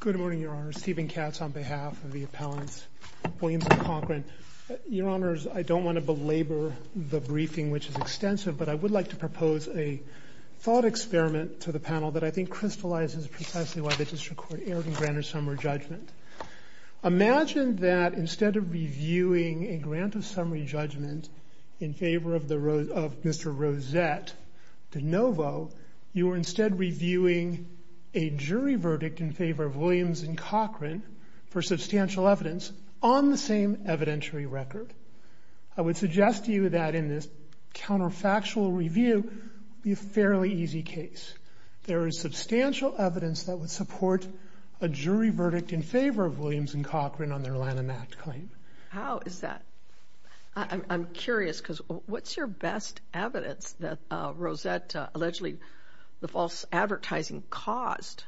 Good morning, Your Honors. Stephen Katz on behalf of the appellants, Williams & Cochrane. Your Honors, I don't want to belabor the briefing, which is extensive, but I would like to propose a thought experiment to the panel that I think crystallizes precisely why they just recorded Ervin Granter's summary judgment. Imagine that instead of reviewing a grant of summary judgment in favor of Mr. Rosette de Novo, you are instead reviewing a jury verdict in favor of Williams & Cochrane for substantial evidence on the same evidentiary record. I would suggest to you that in this counterfactual review, it would be a fairly easy case. There is substantial evidence that would support a jury verdict in favor of Williams & Cochrane on their Lanham Act claim. How is that? I'm curious, because what's your best evidence that Rosette allegedly, the false advertising caused,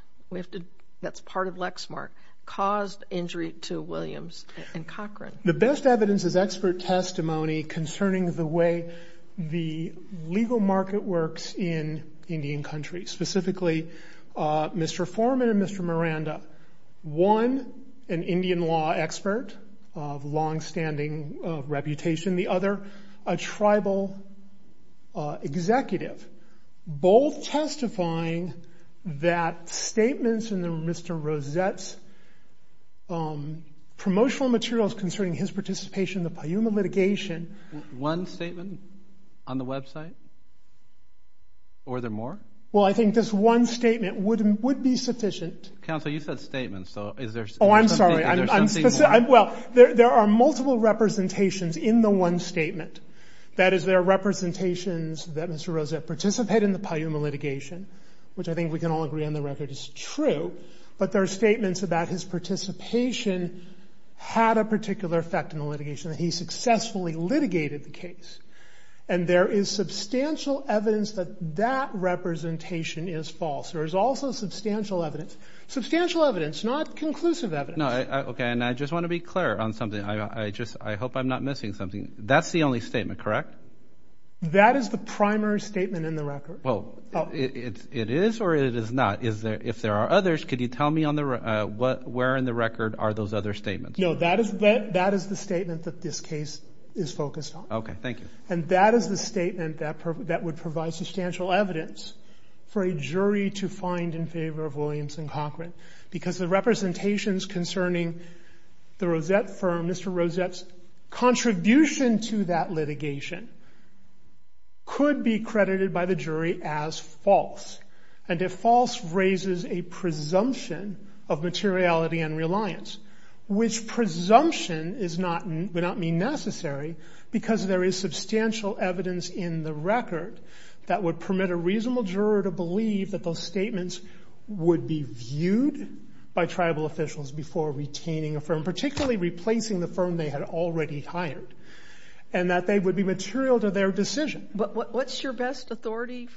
that's part of Lexmark, caused injury to Williams & Cochrane? The best evidence is expert testimony concerning the way the legal market works in Indian countries. Specifically, Mr. Forman and Mr. Miranda won an Indian law expert of long-standing reputation. The other, a tribal executive, both testifying that statements in Mr. Rosette's promotional materials concerning his participation in the Payuma litigation. One statement on the website? Or are there more? Well, I think this one statement would be sufficient. Counsel, you said statements. Oh, I'm sorry. Well, there are multiple representations in the one statement. That is, there are representations that Mr. Rosette participated in the Payuma litigation, which I think we can all agree on the record is true. But there are statements about his participation had a particular effect in the litigation. He successfully litigated the case. And there is substantial evidence that that representation is false. There is also substantial evidence. Substantial evidence, not conclusive evidence. No, okay, and I just want to be clear on something. I just, I hope I'm not missing something. That's the only statement, correct? That is the primary statement in the record. Well, it is or it is not. Is there, if there are others, could you tell me on the, where in the record are those other statements? No, that is the statement that this case is focused on. Okay, thank you. And that is the statement that would provide substantial evidence for a jury to find in favor of Williams and Cochran. Because the representations concerning the Rosette firm, Mr. Rosette's contribution to that litigation could be credited by the jury as false. And if false raises a presumption of materiality and reliance, which presumption is not, would not mean necessary, because there is substantial evidence in the record that would permit a reasonable juror to believe that those statements would be viewed by tribal officials before retaining a firm, particularly replacing the firm they had already hired, and that they would be material to their decision. But what's your best authority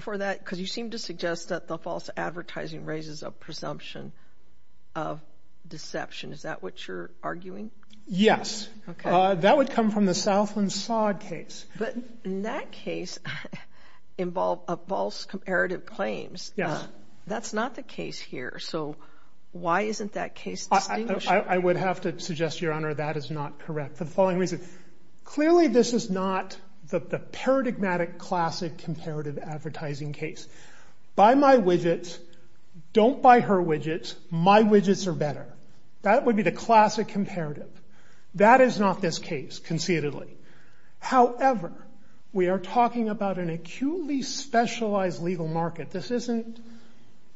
for that? Because you seem to suggest that the false advertising raises a presumption of deception. Is that what you're arguing? Yes. Okay. That would come from the Southland-Sod case. But in that case, involved a false comparative claims. Yes. That's not the case here. So why isn't that case distinguished? I would have to suggest, Your Honor, that is not correct. The following reason. Clearly, this is not the paradigmatic classic comparative advertising case. Buy my widgets. Don't buy her widgets. My widgets are better. That would be the classic comparative. That is not this case, conceitedly. However, we are talking about an acutely specialized legal market. This isn't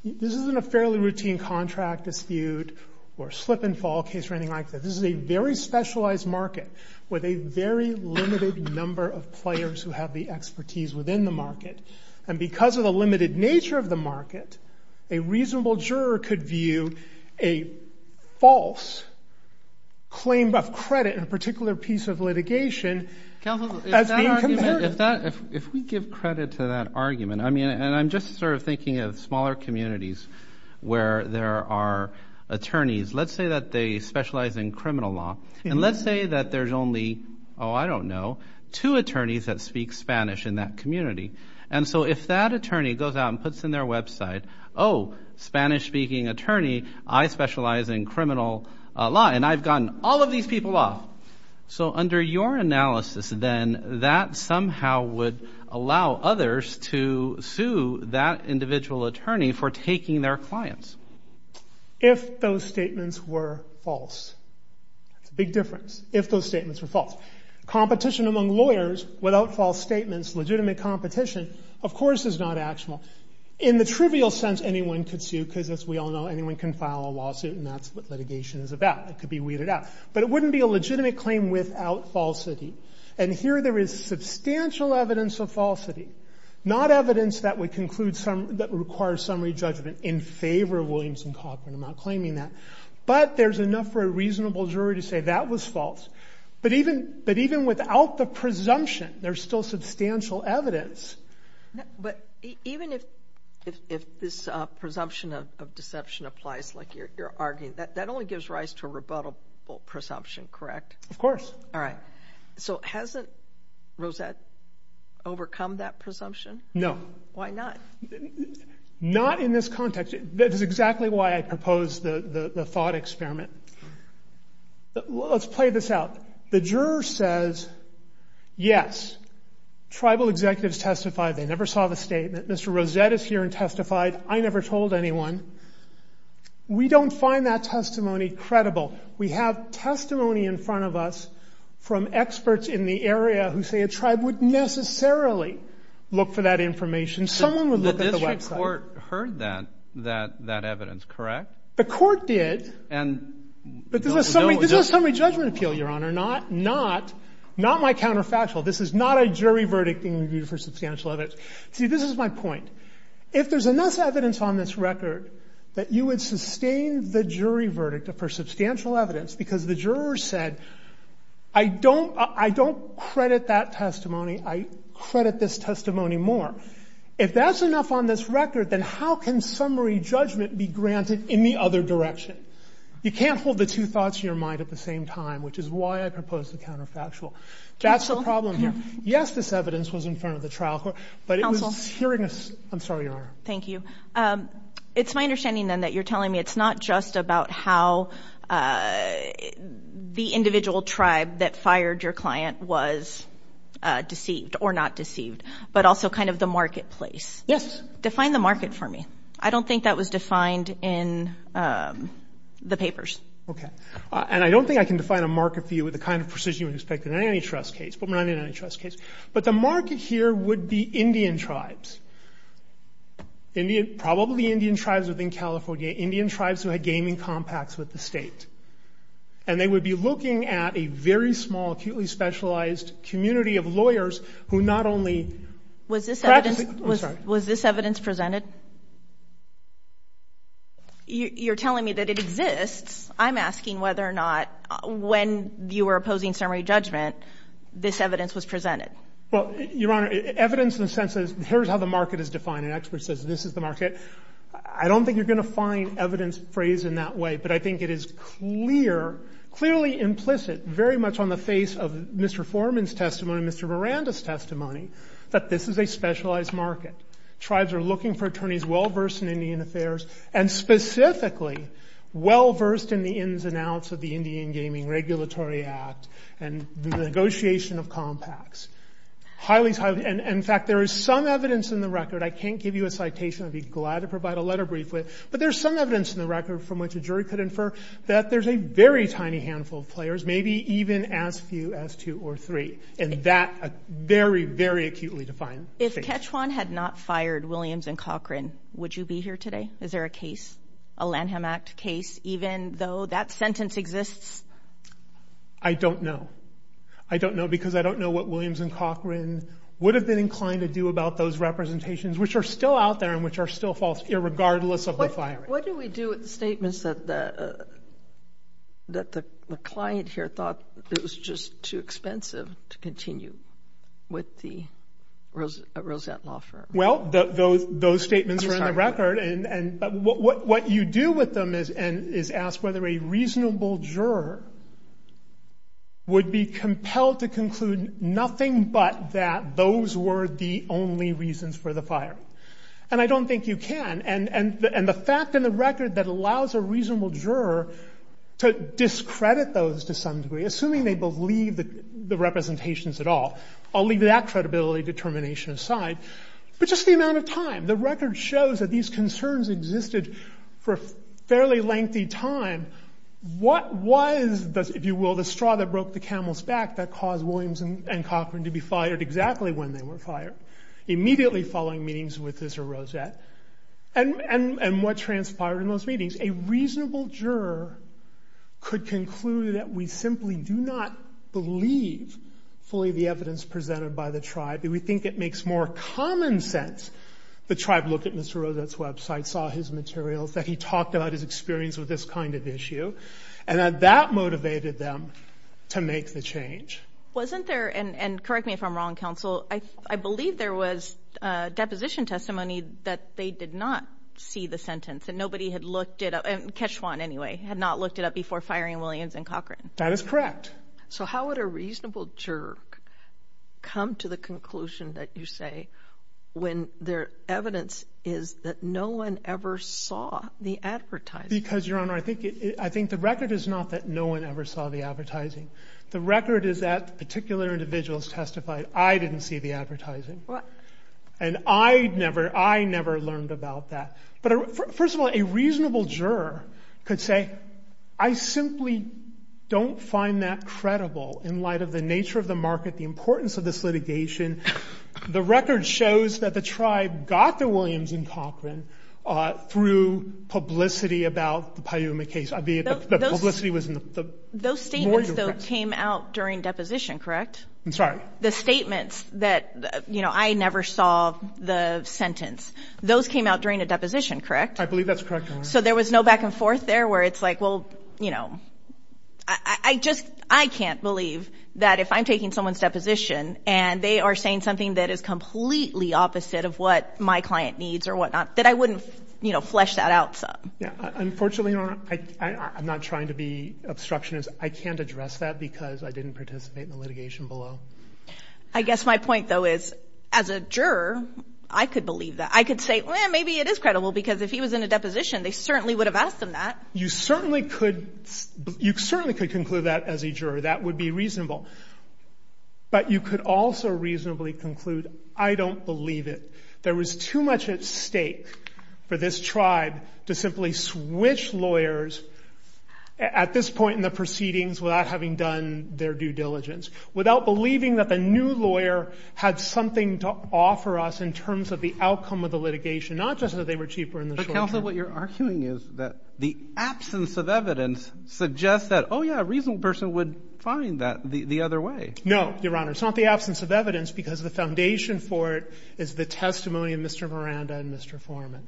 a fairly routine contract dispute or slip and fall case or anything like that. This is a very specialized market with a very limited number of players who have the expertise within the market. And because of the limited nature of the market, a reasonable juror could view a false claim of credit in a particular piece of litigation as being concerted. Counsel, if we give credit to that argument, I mean, and I'm just sort of thinking of smaller communities where there are attorneys. Let's say that they specialize in criminal law. And let's say that there's only, oh, I don't know, two attorneys that puts in their website, oh, Spanish-speaking attorney, I specialize in criminal law, and I've gotten all of these people off. So under your analysis, then, that somehow would allow others to sue that individual attorney for taking their clients. If those statements were false. That's a big difference. If those statements were false. Competition among lawyers without false statements, legitimate competition, of course is not actionable. In the trivial sense, anyone could sue, because as we all know, anyone can file a lawsuit and that's what litigation is about. It could be weeded out. But it wouldn't be a legitimate claim without falsity. And here there is substantial evidence of falsity. Not evidence that would conclude some, that requires summary judgment in favor of Williams and Cochran. I'm not claiming that. But there's enough for a reasonable jury to say that was false. But even without the presumption, there's still substantial evidence. But even if this presumption of deception applies like you're arguing, that only gives rise to a rebuttable presumption, correct? Of course. All right. So hasn't Rosette overcome that presumption? No. Why not? Not in this context. That is exactly why I proposed the thought experiment. Let's play this out. The juror says, yes, tribal executives testified. They never saw the statement. Mr. Rosette is here and testified. I never told anyone. We don't find that testimony credible. We have testimony in front of us from experts in the area who say a tribe would necessarily look for that information. Someone would look at the website. The district court heard that, that evidence, correct? The court did. And we know it was not the case. But this is a summary judgment appeal, Your Honor, not my counterfactual. This is not a jury verdict being reviewed for substantial evidence. See, this is my point. If there's enough evidence on this record that you would sustain the jury verdict for substantial evidence because the juror said, I don't credit that testimony, I credit this testimony more. If that's enough on this record, then how can summary judgment be granted in the other direction? You can't hold the two thoughts in your mind at the same time, which is why I proposed the counterfactual. That's the problem here. Counsel? Yes, this evidence was in front of the trial court, but it was hearing a – I'm sorry, Your Honor. Thank you. It's my understanding, then, that you're telling me it's not just about how the individual tribe that fired your client was deceived or not deceived, but also kind of the marketplace. Yes. Define the market for me. I don't think that was defined in the papers. Okay. And I don't think I can define a market for you with the kind of precision you would expect in an antitrust case, but we're not in an antitrust case. But the market here would be Indian tribes, Indian – probably Indian tribes within California, Indian tribes who had gaming compacts with the State. And they would be looking at a very small, acutely specialized community of lawyers who not only – Was this evidence – I'm sorry. Was this evidence presented? You're telling me that it exists. I'm asking whether or not when you were opposing summary judgment, this evidence was presented. Well, Your Honor, evidence in the sense that here's how the market is defined. An expert says this is the market. I don't think you're going to find evidence phrased in that way, but I think it is clear, clearly implicit, very much on the face of Mr. Foreman's testimony, Mr. Miranda's testimony, that this is a specialized market. Tribes are looking for attorneys well-versed in Indian affairs and specifically well-versed in the ins and outs of the Indian Gaming Regulatory Act and the negotiation of compacts. Highly – and in fact, there is some evidence in the record – I can't give you a citation. I'd be glad to provide a letter briefly. But there's some evidence in the record from which a jury could infer that there's a very tiny handful of players, maybe even as few as two or three, in that very, very acutely defined case. If Ketchewan had not fired Williams and Cochran, would you be here today? Is there a case, a Lanham Act case, even though that sentence exists? I don't know. I don't know because I don't know what Williams and Cochran would have been inclined to do about those representations, which are still out there and which are still false, irregardless of the firing. What do we do with the statements that the client here thought it was just too Well, those statements are in the record. What you do with them is ask whether a reasonable juror would be compelled to conclude nothing but that those were the only reasons for the fire. And I don't think you can. And the fact in the record that allows a reasonable juror to discredit those to some degree, assuming they believe the representations at all – I'll leave that credibility and determination aside – but just the amount of time. The record shows that these concerns existed for a fairly lengthy time. What was, if you will, the straw that broke the camel's back that caused Williams and Cochran to be fired exactly when they were fired, immediately following meetings with this Rosette? And what transpired in those meetings? A reasonable juror could conclude that we simply do not believe fully the evidence presented by the tribe. We think it makes more common sense the tribe looked at Mr. Rosette's website, saw his materials, that he talked about his experience with this kind of issue, and that that motivated them to make the change. Wasn't there – and correct me if I'm wrong, counsel – I believe there was deposition testimony that they did not see the sentence and nobody had looked it up – Keshwan, anyway – had not looked it up before firing Williams and Cochran. That is correct. So how would a reasonable juror come to the conclusion that you say when their evidence is that no one ever saw the advertising? Because, Your Honor, I think the record is not that no one ever saw the advertising. The record is that particular individuals testified, I didn't see the advertising. And I never learned about that. But first of all, a reasonable juror could say, I simply don't find that credible in light of the nature of the market, the importance of this litigation. The record shows that the tribe got to Williams and Cochran through publicity about the Paiuma case. I mean, the publicity was more direct. Those statements, though, came out during deposition, correct? I'm sorry? The statements that, you know, I never saw the sentence, those came out during a deposition, correct? I believe that's correct, Your Honor. So there was no back and forth there where it's like, well, you know, I just – I can't believe that if I'm taking someone's deposition and they are saying something that is completely opposite of what my client needs or whatnot, that I wouldn't, you know, flesh that out. Unfortunately, Your Honor, I'm not trying to be obstructionist. I can't address that because I didn't participate in the litigation below. I guess my point, though, is as a juror, I could believe that. I could say, well, maybe it is credible because if he was in a deposition, they certainly would have asked him that. You certainly could – you certainly could conclude that as a juror. That would be reasonable. But you could also reasonably conclude, I don't believe it. There was too much at stake for this tribe to simply switch lawyers at this point in the proceedings without having done their due diligence, without believing that the new lawyer had something to offer us in terms of the outcome of the litigation, not just that they were cheaper in the short term. But, counsel, what you're arguing is that the absence of evidence suggests that, oh, yeah, a reasonable person would find that the other way. No, Your Honor. It's not the absence of evidence because the foundation for it is the testimony of Mr. Miranda and Mr. Foreman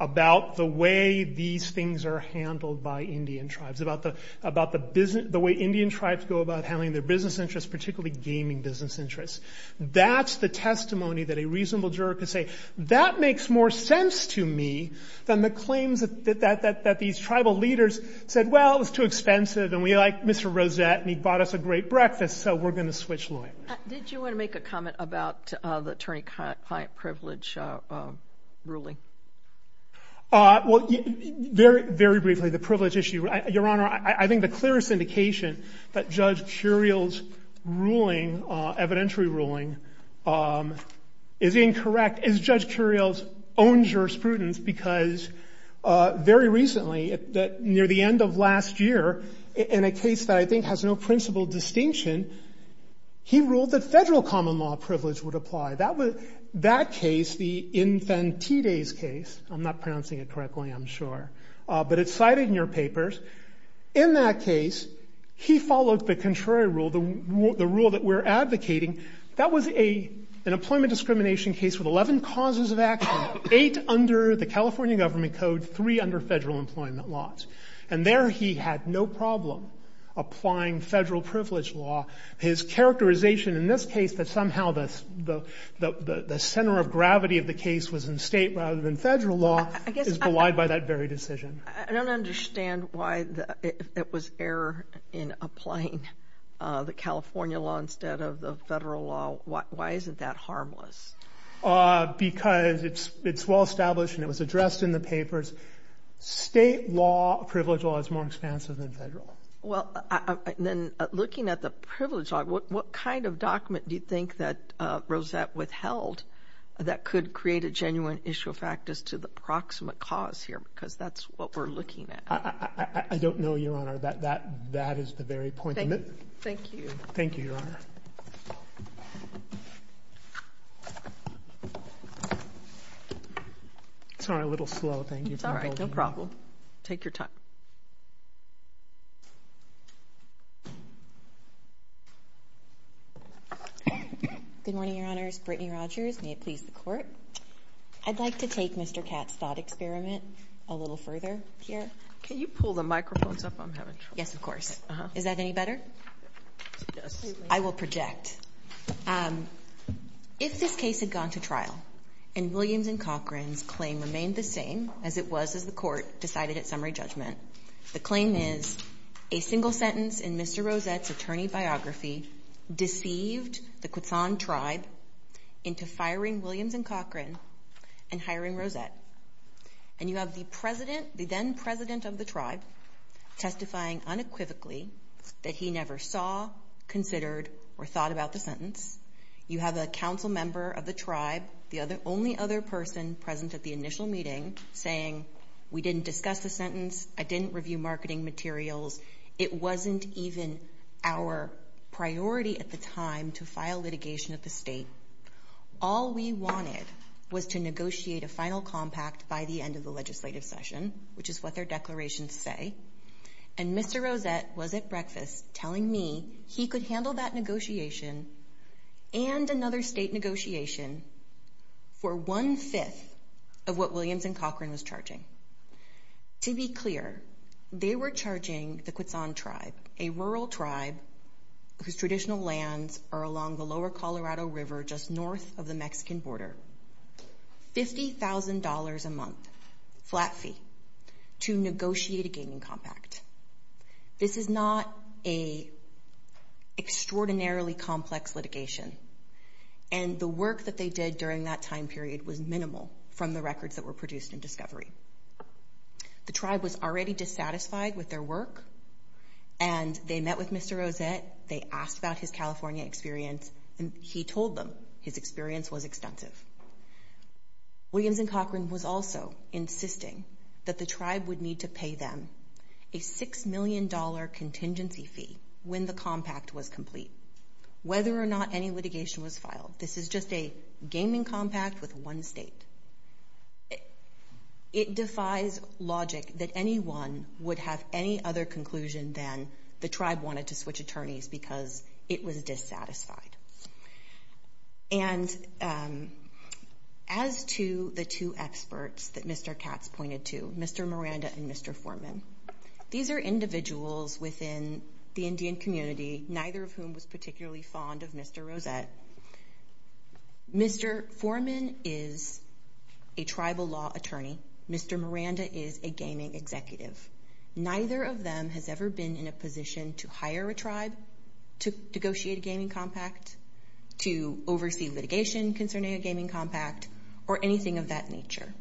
about the way these things are handled by Indian tribes, about the way Indian tribes go about handling their business interests, particularly gaming business interests. That's the testimony that a reasonable juror could say, that makes more sense to me than the claims that these tribal leaders said, well, it was too expensive and we like Mr. Rosette and he bought us a great breakfast, so we're going to switch lawyers. Did you want to make a comment about the attorney-client privilege ruling? Well, very briefly, the privilege issue. Your Honor, I think the clearest indication that Judge Curiel's ruling evidentiary ruling is incorrect is Judge Curiel's own jurisprudence because very recently, near the end of last year, in a case that I think has no principal distinction, he ruled that federal common law privilege would apply. That case, the Infantides case, I'm not pronouncing it correctly, I'm sure, but it's cited in your papers. In that case, he followed the contrary rule, the rule that we're advocating. That was an employment discrimination case with 11 causes of action, eight under the California Government Code, three under federal employment laws, and there he had no problem applying federal privilege law. His characterization in this case that somehow the center of gravity of the case was in state rather than federal law is belied by that very decision. I don't understand why it was error in applying the California law instead of the federal law. Why isn't that harmless? Because it's well-established and it was addressed in the papers. State law privilege law is more expansive than federal. Well, then looking at the privilege law, what kind of document do you think that Rosette withheld that could create a genuine issue of practice as opposed to the proximate cause here? Because that's what we're looking at. I don't know, Your Honor. That is the very point. Thank you. Thank you, Your Honor. Sorry, a little slow. Thank you for holding me. It's all right. No problem. Take your time. Good morning, Your Honors. Brittany Rogers. May it please the Court. I'd like to take Mr. Katz's thought experiment a little further here. Can you pull the microphones up? I'm having trouble. Yes, of course. Is that any better? Yes. I will project. If this case had gone to trial and Williams and Cochran's claim remained the same as it was as the Court decided at summary judgment, the claim is a single sentence in Mr. Rosette's attorney biography that he deceived the Quetzon tribe into firing Williams and Cochran and hiring Rosette. And you have the president, the then president of the tribe, testifying unequivocally that he never saw, considered, or thought about the sentence. You have a council member of the tribe, the only other person present at the initial meeting, saying, we didn't discuss the sentence. I didn't review marketing materials. It wasn't even our priority at the time to file litigation at the state. All we wanted was to negotiate a final compact by the end of the legislative session, which is what their declarations say. And Mr. Rosette was at breakfast telling me he could handle that negotiation and another state negotiation for one-fifth of what Williams and Cochran was charging. To be clear, they were charging the Quetzon tribe, a rural tribe whose traditional lands are along the lower Colorado River just north of the Mexican border, $50,000 a month flat fee to negotiate a gaining compact. This is not an extraordinarily complex litigation, and the work that they did during that time period was minimal from the records that were produced in Discovery. The tribe was already dissatisfied with their work, and they met with Mr. Rosette. They asked about his California experience, and he told them his experience was extensive. Williams and Cochran was also insisting that the tribe would need to pay them a $6 million contingency fee when the compact was complete. Whether or not any litigation was filed, this is just a gaining compact with one state. It defies logic that anyone would have any other conclusion than the tribe wanted to switch attorneys because it was dissatisfied. And as to the two experts that Mr. Katz pointed to, Mr. Miranda and Mr. Forman, these are individuals within the Indian community, neither of whom was particularly fond of Mr. Rosette. Mr. Forman is a tribal law attorney. Mr. Miranda is a gaming executive. Neither of them has ever been in a position to hire a tribe to negotiate a gaining compact, to oversee litigation concerning a gaining compact, or anything of that nature.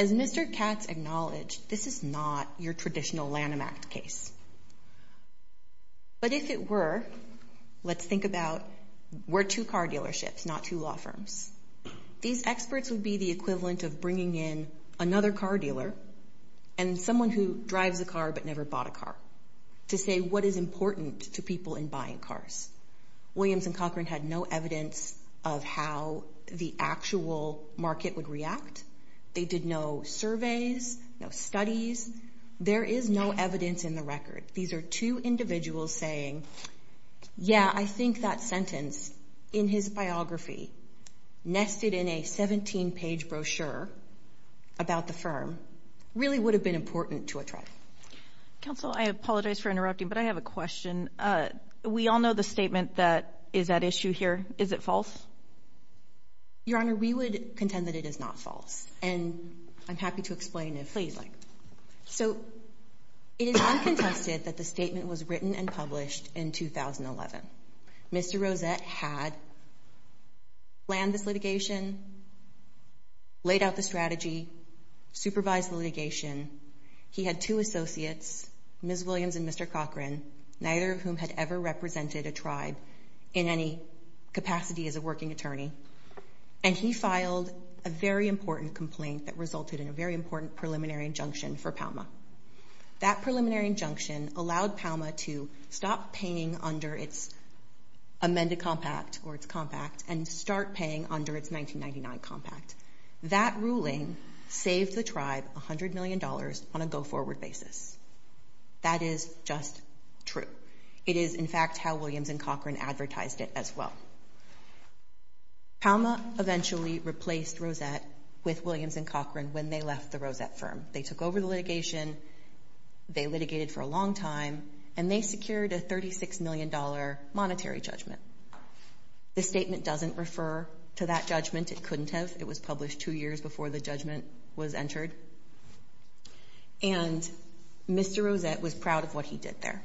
As Mr. Katz acknowledged, this is not your traditional Lanham Act case. But if it were, let's think about we're two car dealerships, not two law firms. These experts would be the equivalent of bringing in another car dealer and someone who drives a car but never bought a car to say what is important to people in buying cars. Williams and Cochran had no evidence of how the actual market would react. They did no surveys, no studies. There is no evidence in the record. These are two individuals saying, yeah, I think that sentence in his biography, nested in a 17-page brochure about the firm, really would have been important to a tribe. Counsel, I apologize for interrupting, but I have a question. We all know the statement that is at issue here. Is it false? Your Honor, we would contend that it is not false. And I'm happy to explain it. Please. So it is uncontested that the statement was written and published in 2011. Mr. Rosette had planned this litigation, laid out the strategy, supervised the litigation. He had two associates, Ms. Williams and Mr. Cochran, neither of whom had ever represented a tribe in any capacity as a working attorney. And he filed a very important complaint that resulted in a very important preliminary injunction for Palma. That preliminary injunction allowed Palma to stop paying under its amended compact or its compact and start paying under its 1999 compact. That ruling saved the tribe $100 million on a go-forward basis. That is just true. It is, in fact, how Williams and Cochran advertised it as well. Palma eventually replaced Rosette with Williams and Cochran when they left the Rosette firm. They took over the litigation. They litigated for a long time, and they secured a $36 million monetary judgment. This statement doesn't refer to that judgment. It couldn't have. It was published two years before the judgment was entered. And Mr. Rosette was proud of what he did there.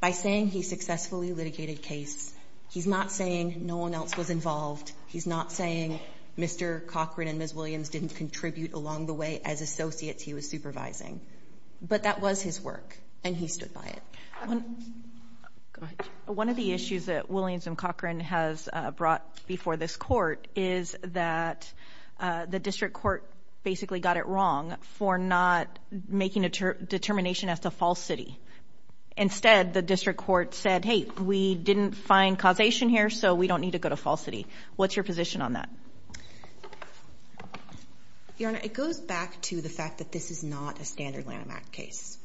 By saying he successfully litigated case, he's not saying no one else was involved. He's not saying Mr. Cochran and Ms. Williams didn't contribute along the way as associates he was supervising. But that was his work, and he stood by it. Go ahead. One of the issues that Williams and Cochran has brought before this court is that the district court basically got it wrong for not making a determination as to false city. Instead, the district court said, hey, we didn't find causation here, so we don't need to go to false city. What's your position on that? Your Honor, it goes back to the fact that this is not a standard Lanham Act case.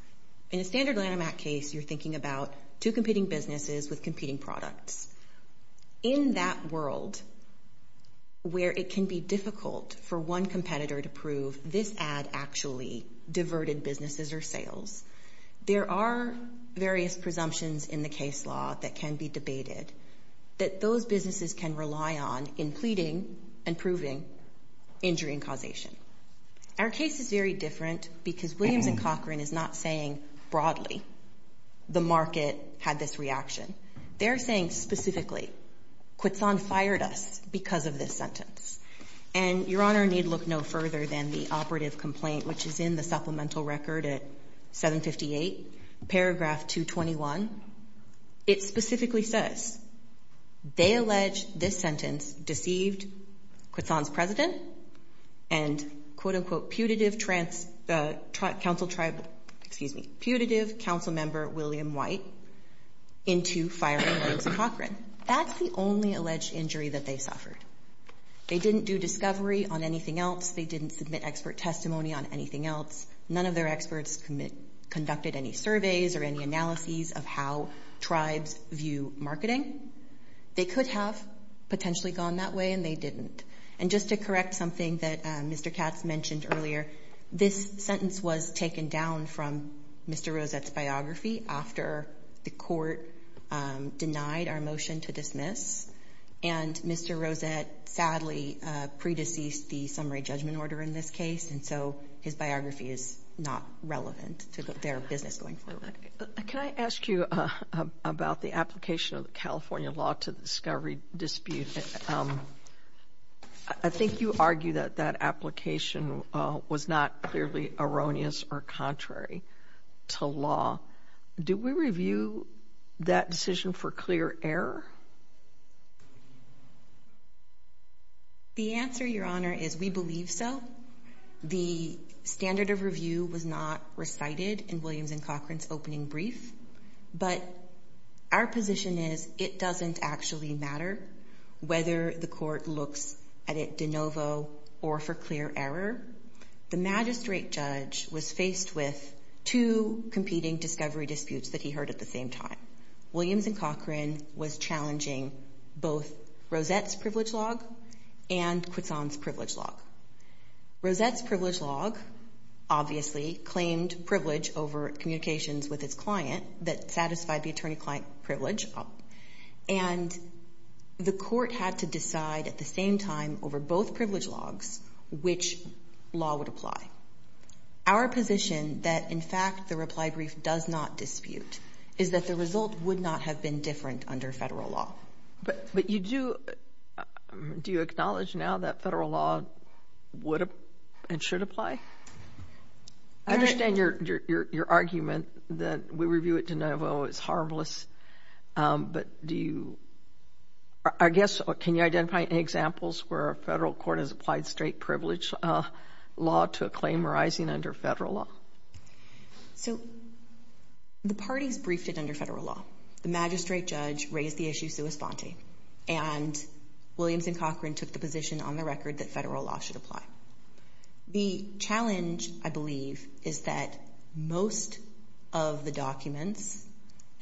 In a standard Lanham Act case, you're thinking about two competing businesses with competing products. In that world, where it can be difficult for one competitor to prove this ad actually diverted businesses or sales, there are various presumptions in the case law that can be debated that those businesses can rely on in pleading and proving injury and causation. Our case is very different because Williams and Cochran is not saying broadly the market had this reaction. They're saying specifically, Quitson fired us because of this sentence. And, Your Honor, need look no further than the operative complaint, which is in the supplemental record at 758, paragraph 221. It specifically says they allege this sentence deceived Quitson's president and, quote, unquote, putative council member William White into firing Williams and Cochran. That's the only alleged injury that they suffered. They didn't do discovery on anything else. They didn't submit expert testimony on anything else. None of their experts conducted any surveys or any analyses of how tribes view marketing. They could have potentially gone that way, and they didn't. And just to correct something that Mr. Katz mentioned earlier, this sentence was taken down from Mr. Rosette's biography after the court denied our motion to dismiss, and Mr. Rosette sadly predeceased the summary judgment order in this case, and so his biography is not relevant to their business going forward. Can I ask you about the application of the California law to the discovery dispute? I think you argue that that application was not clearly erroneous or contrary to law. Do we review that decision for clear error? The answer, Your Honor, is we believe so. The standard of review was not recited in Williams and Cochran's opening brief, but our position is it doesn't actually matter whether the court looks at it de novo or for clear error. The magistrate judge was faced with two competing discovery disputes that he heard at the same time. Williams and Cochran was challenging both Rosette's privilege log and Quisson's privilege log. Rosette's privilege log obviously claimed privilege over communications with its client that satisfied the attorney-client privilege, and the court had to decide at the same time over both privilege logs, which law would apply. Our position that, in fact, the reply brief does not dispute is that the result would not have been different under federal law. But you do – do you acknowledge now that federal law would and should apply? I understand your argument that we review it de novo is harmless, but do you – I guess, can you identify any examples where a federal court has applied straight privilege law to a claim arising under federal law? So the parties briefed it under federal law. The magistrate judge raised the issue sua sponte, and Williams and Cochran took the position on the record that federal law should apply. The challenge, I believe, is that most of the documents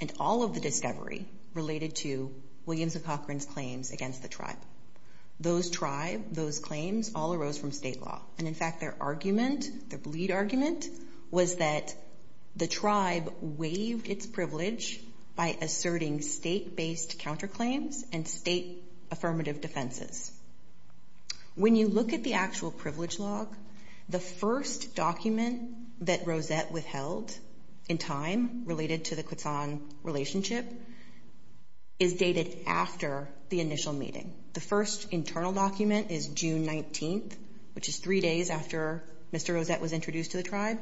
and all of the discovery related to Williams and Cochran's claims against the tribe. Those tribes, those claims, all arose from state law. And, in fact, their argument, their bleed argument, was that the tribe waived its privilege by asserting state-based counterclaims and state affirmative defenses. When you look at the actual privilege log, the first document that Rosette withheld in time related to the Quetzon relationship is dated after the initial meeting. The first internal document is June 19th, which is three days after Mr. Rosette was introduced to the tribe.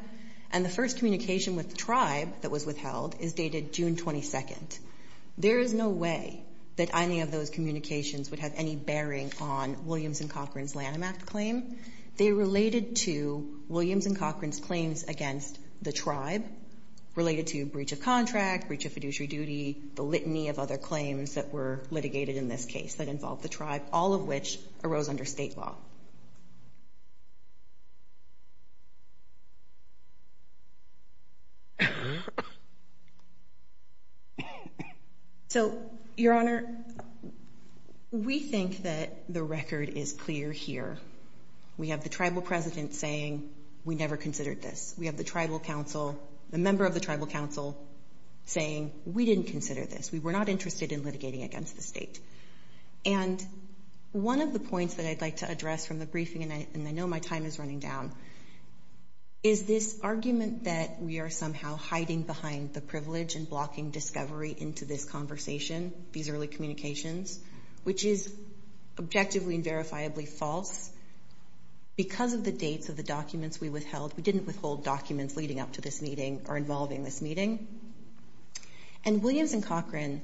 And the first communication with the tribe that was withheld is dated June 22nd. There is no way that any of those communications would have any bearing on Williams and Cochran's Lanham Act claim. They related to Williams and Cochran's claims against the tribe, related to breach of contract, breach of fiduciary duty, the litany of other claims that were litigated in this case that involved the tribe, all of which arose under state law. So, Your Honor, we think that the record is clear here. We have the tribal president saying we never considered this. We have the tribal council, the member of the tribal council, saying we didn't consider this. We were not interested in litigating against the state. And one of the points that I'd like to address from the briefing, and I know my time is running down, is this argument that we are somehow hiding behind the privilege and blocking discovery into this conversation, these early communications, which is objectively and verifiably false. Because of the dates of the documents we withheld, we didn't withhold documents leading up to this meeting or involving this meeting. And Williams and Cochran,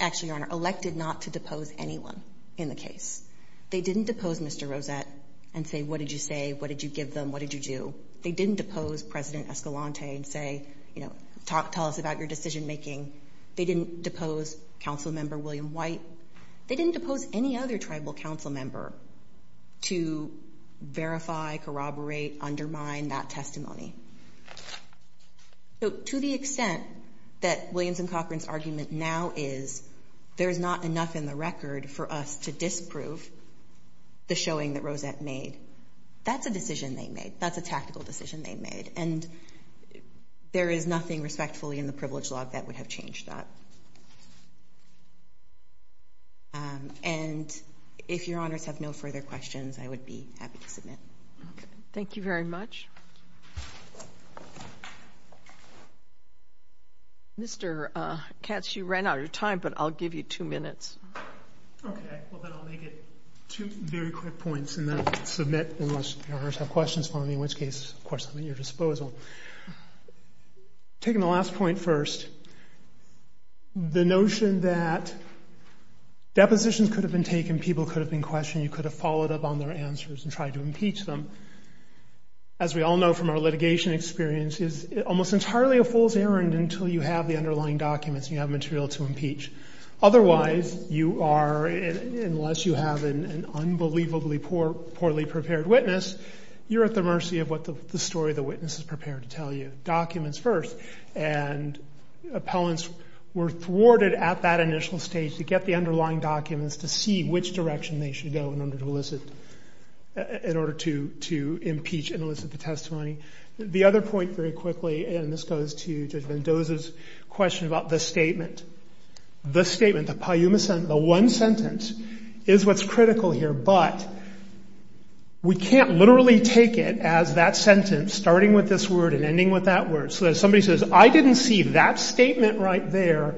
actually, Your Honor, elected not to depose anyone in the case. They didn't depose Mr. Rosette and say what did you say, what did you give them, what did you do. They didn't depose President Escalante and say, you know, tell us about your decision making. They didn't depose Council Member William White. They didn't depose any other tribal council member to verify, corroborate, undermine that testimony. So to the extent that Williams and Cochran's argument now is there is not enough in the record for us to disprove the showing that Rosette made, that's a decision they made. That's a tactical decision they made. And there is nothing respectfully in the privilege log that would have changed that. And if Your Honors have no further questions, I would be happy to submit. Thank you very much. Mr. Katz, you ran out of time, but I'll give you two minutes. Okay, well then I'll make it two very quick points and then submit unless Your Honors have questions for me, in which case, of course, I'm at your disposal. Taking the last point first, the notion that depositions could have been taken, people could have been questioned, you could have followed up on their answers and tried to impeach them. As we all know from our litigation experience, it's almost entirely a fool's errand until you have the underlying documents and you have material to impeach. Otherwise, you are, unless you have an unbelievably poorly prepared witness, you're at the mercy of what the story of the witness is prepared to tell you. Documents first, and appellants were thwarted at that initial stage to get the underlying documents to see which direction they should go in order to elicit. In order to impeach and elicit the testimony. The other point very quickly, and this goes to Judge Mendoza's question about the statement. The statement, the one sentence is what's critical here, but we can't literally take it as that sentence starting with this word and ending with that word. So if somebody says, I didn't see that statement right there,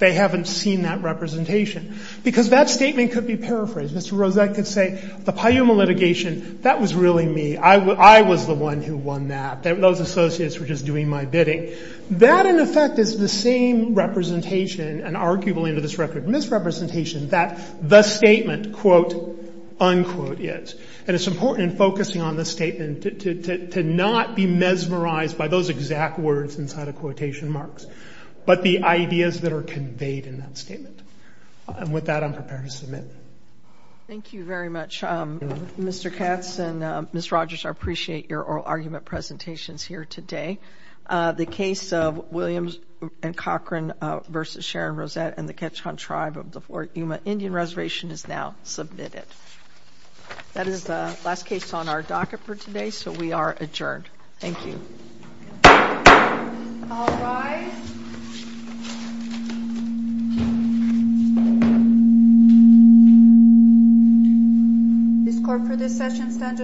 they haven't seen that representation. Because that statement could be paraphrased. Mr. Rozette could say, the Payuma litigation, that was really me. I was the one who won that. Those associates were just doing my bidding. That, in effect, is the same representation, and arguably under this record, misrepresentation that the statement, quote, unquote, is. And it's important in focusing on the statement to not be mesmerized by those exact words inside of quotation marks, but the ideas that are conveyed in that statement. And with that, I'm prepared to submit. Thank you very much, Mr. Katz and Ms. Rogers. I appreciate your oral argument presentations here today. The case of Williams and Cochran v. Sharon Rozette and the Ketchikan Tribe of the Payuma Indian Reservation is now submitted. That is the last case on our docket for today, so we are adjourned. Thank you. All rise. This court for this session stands adjourned.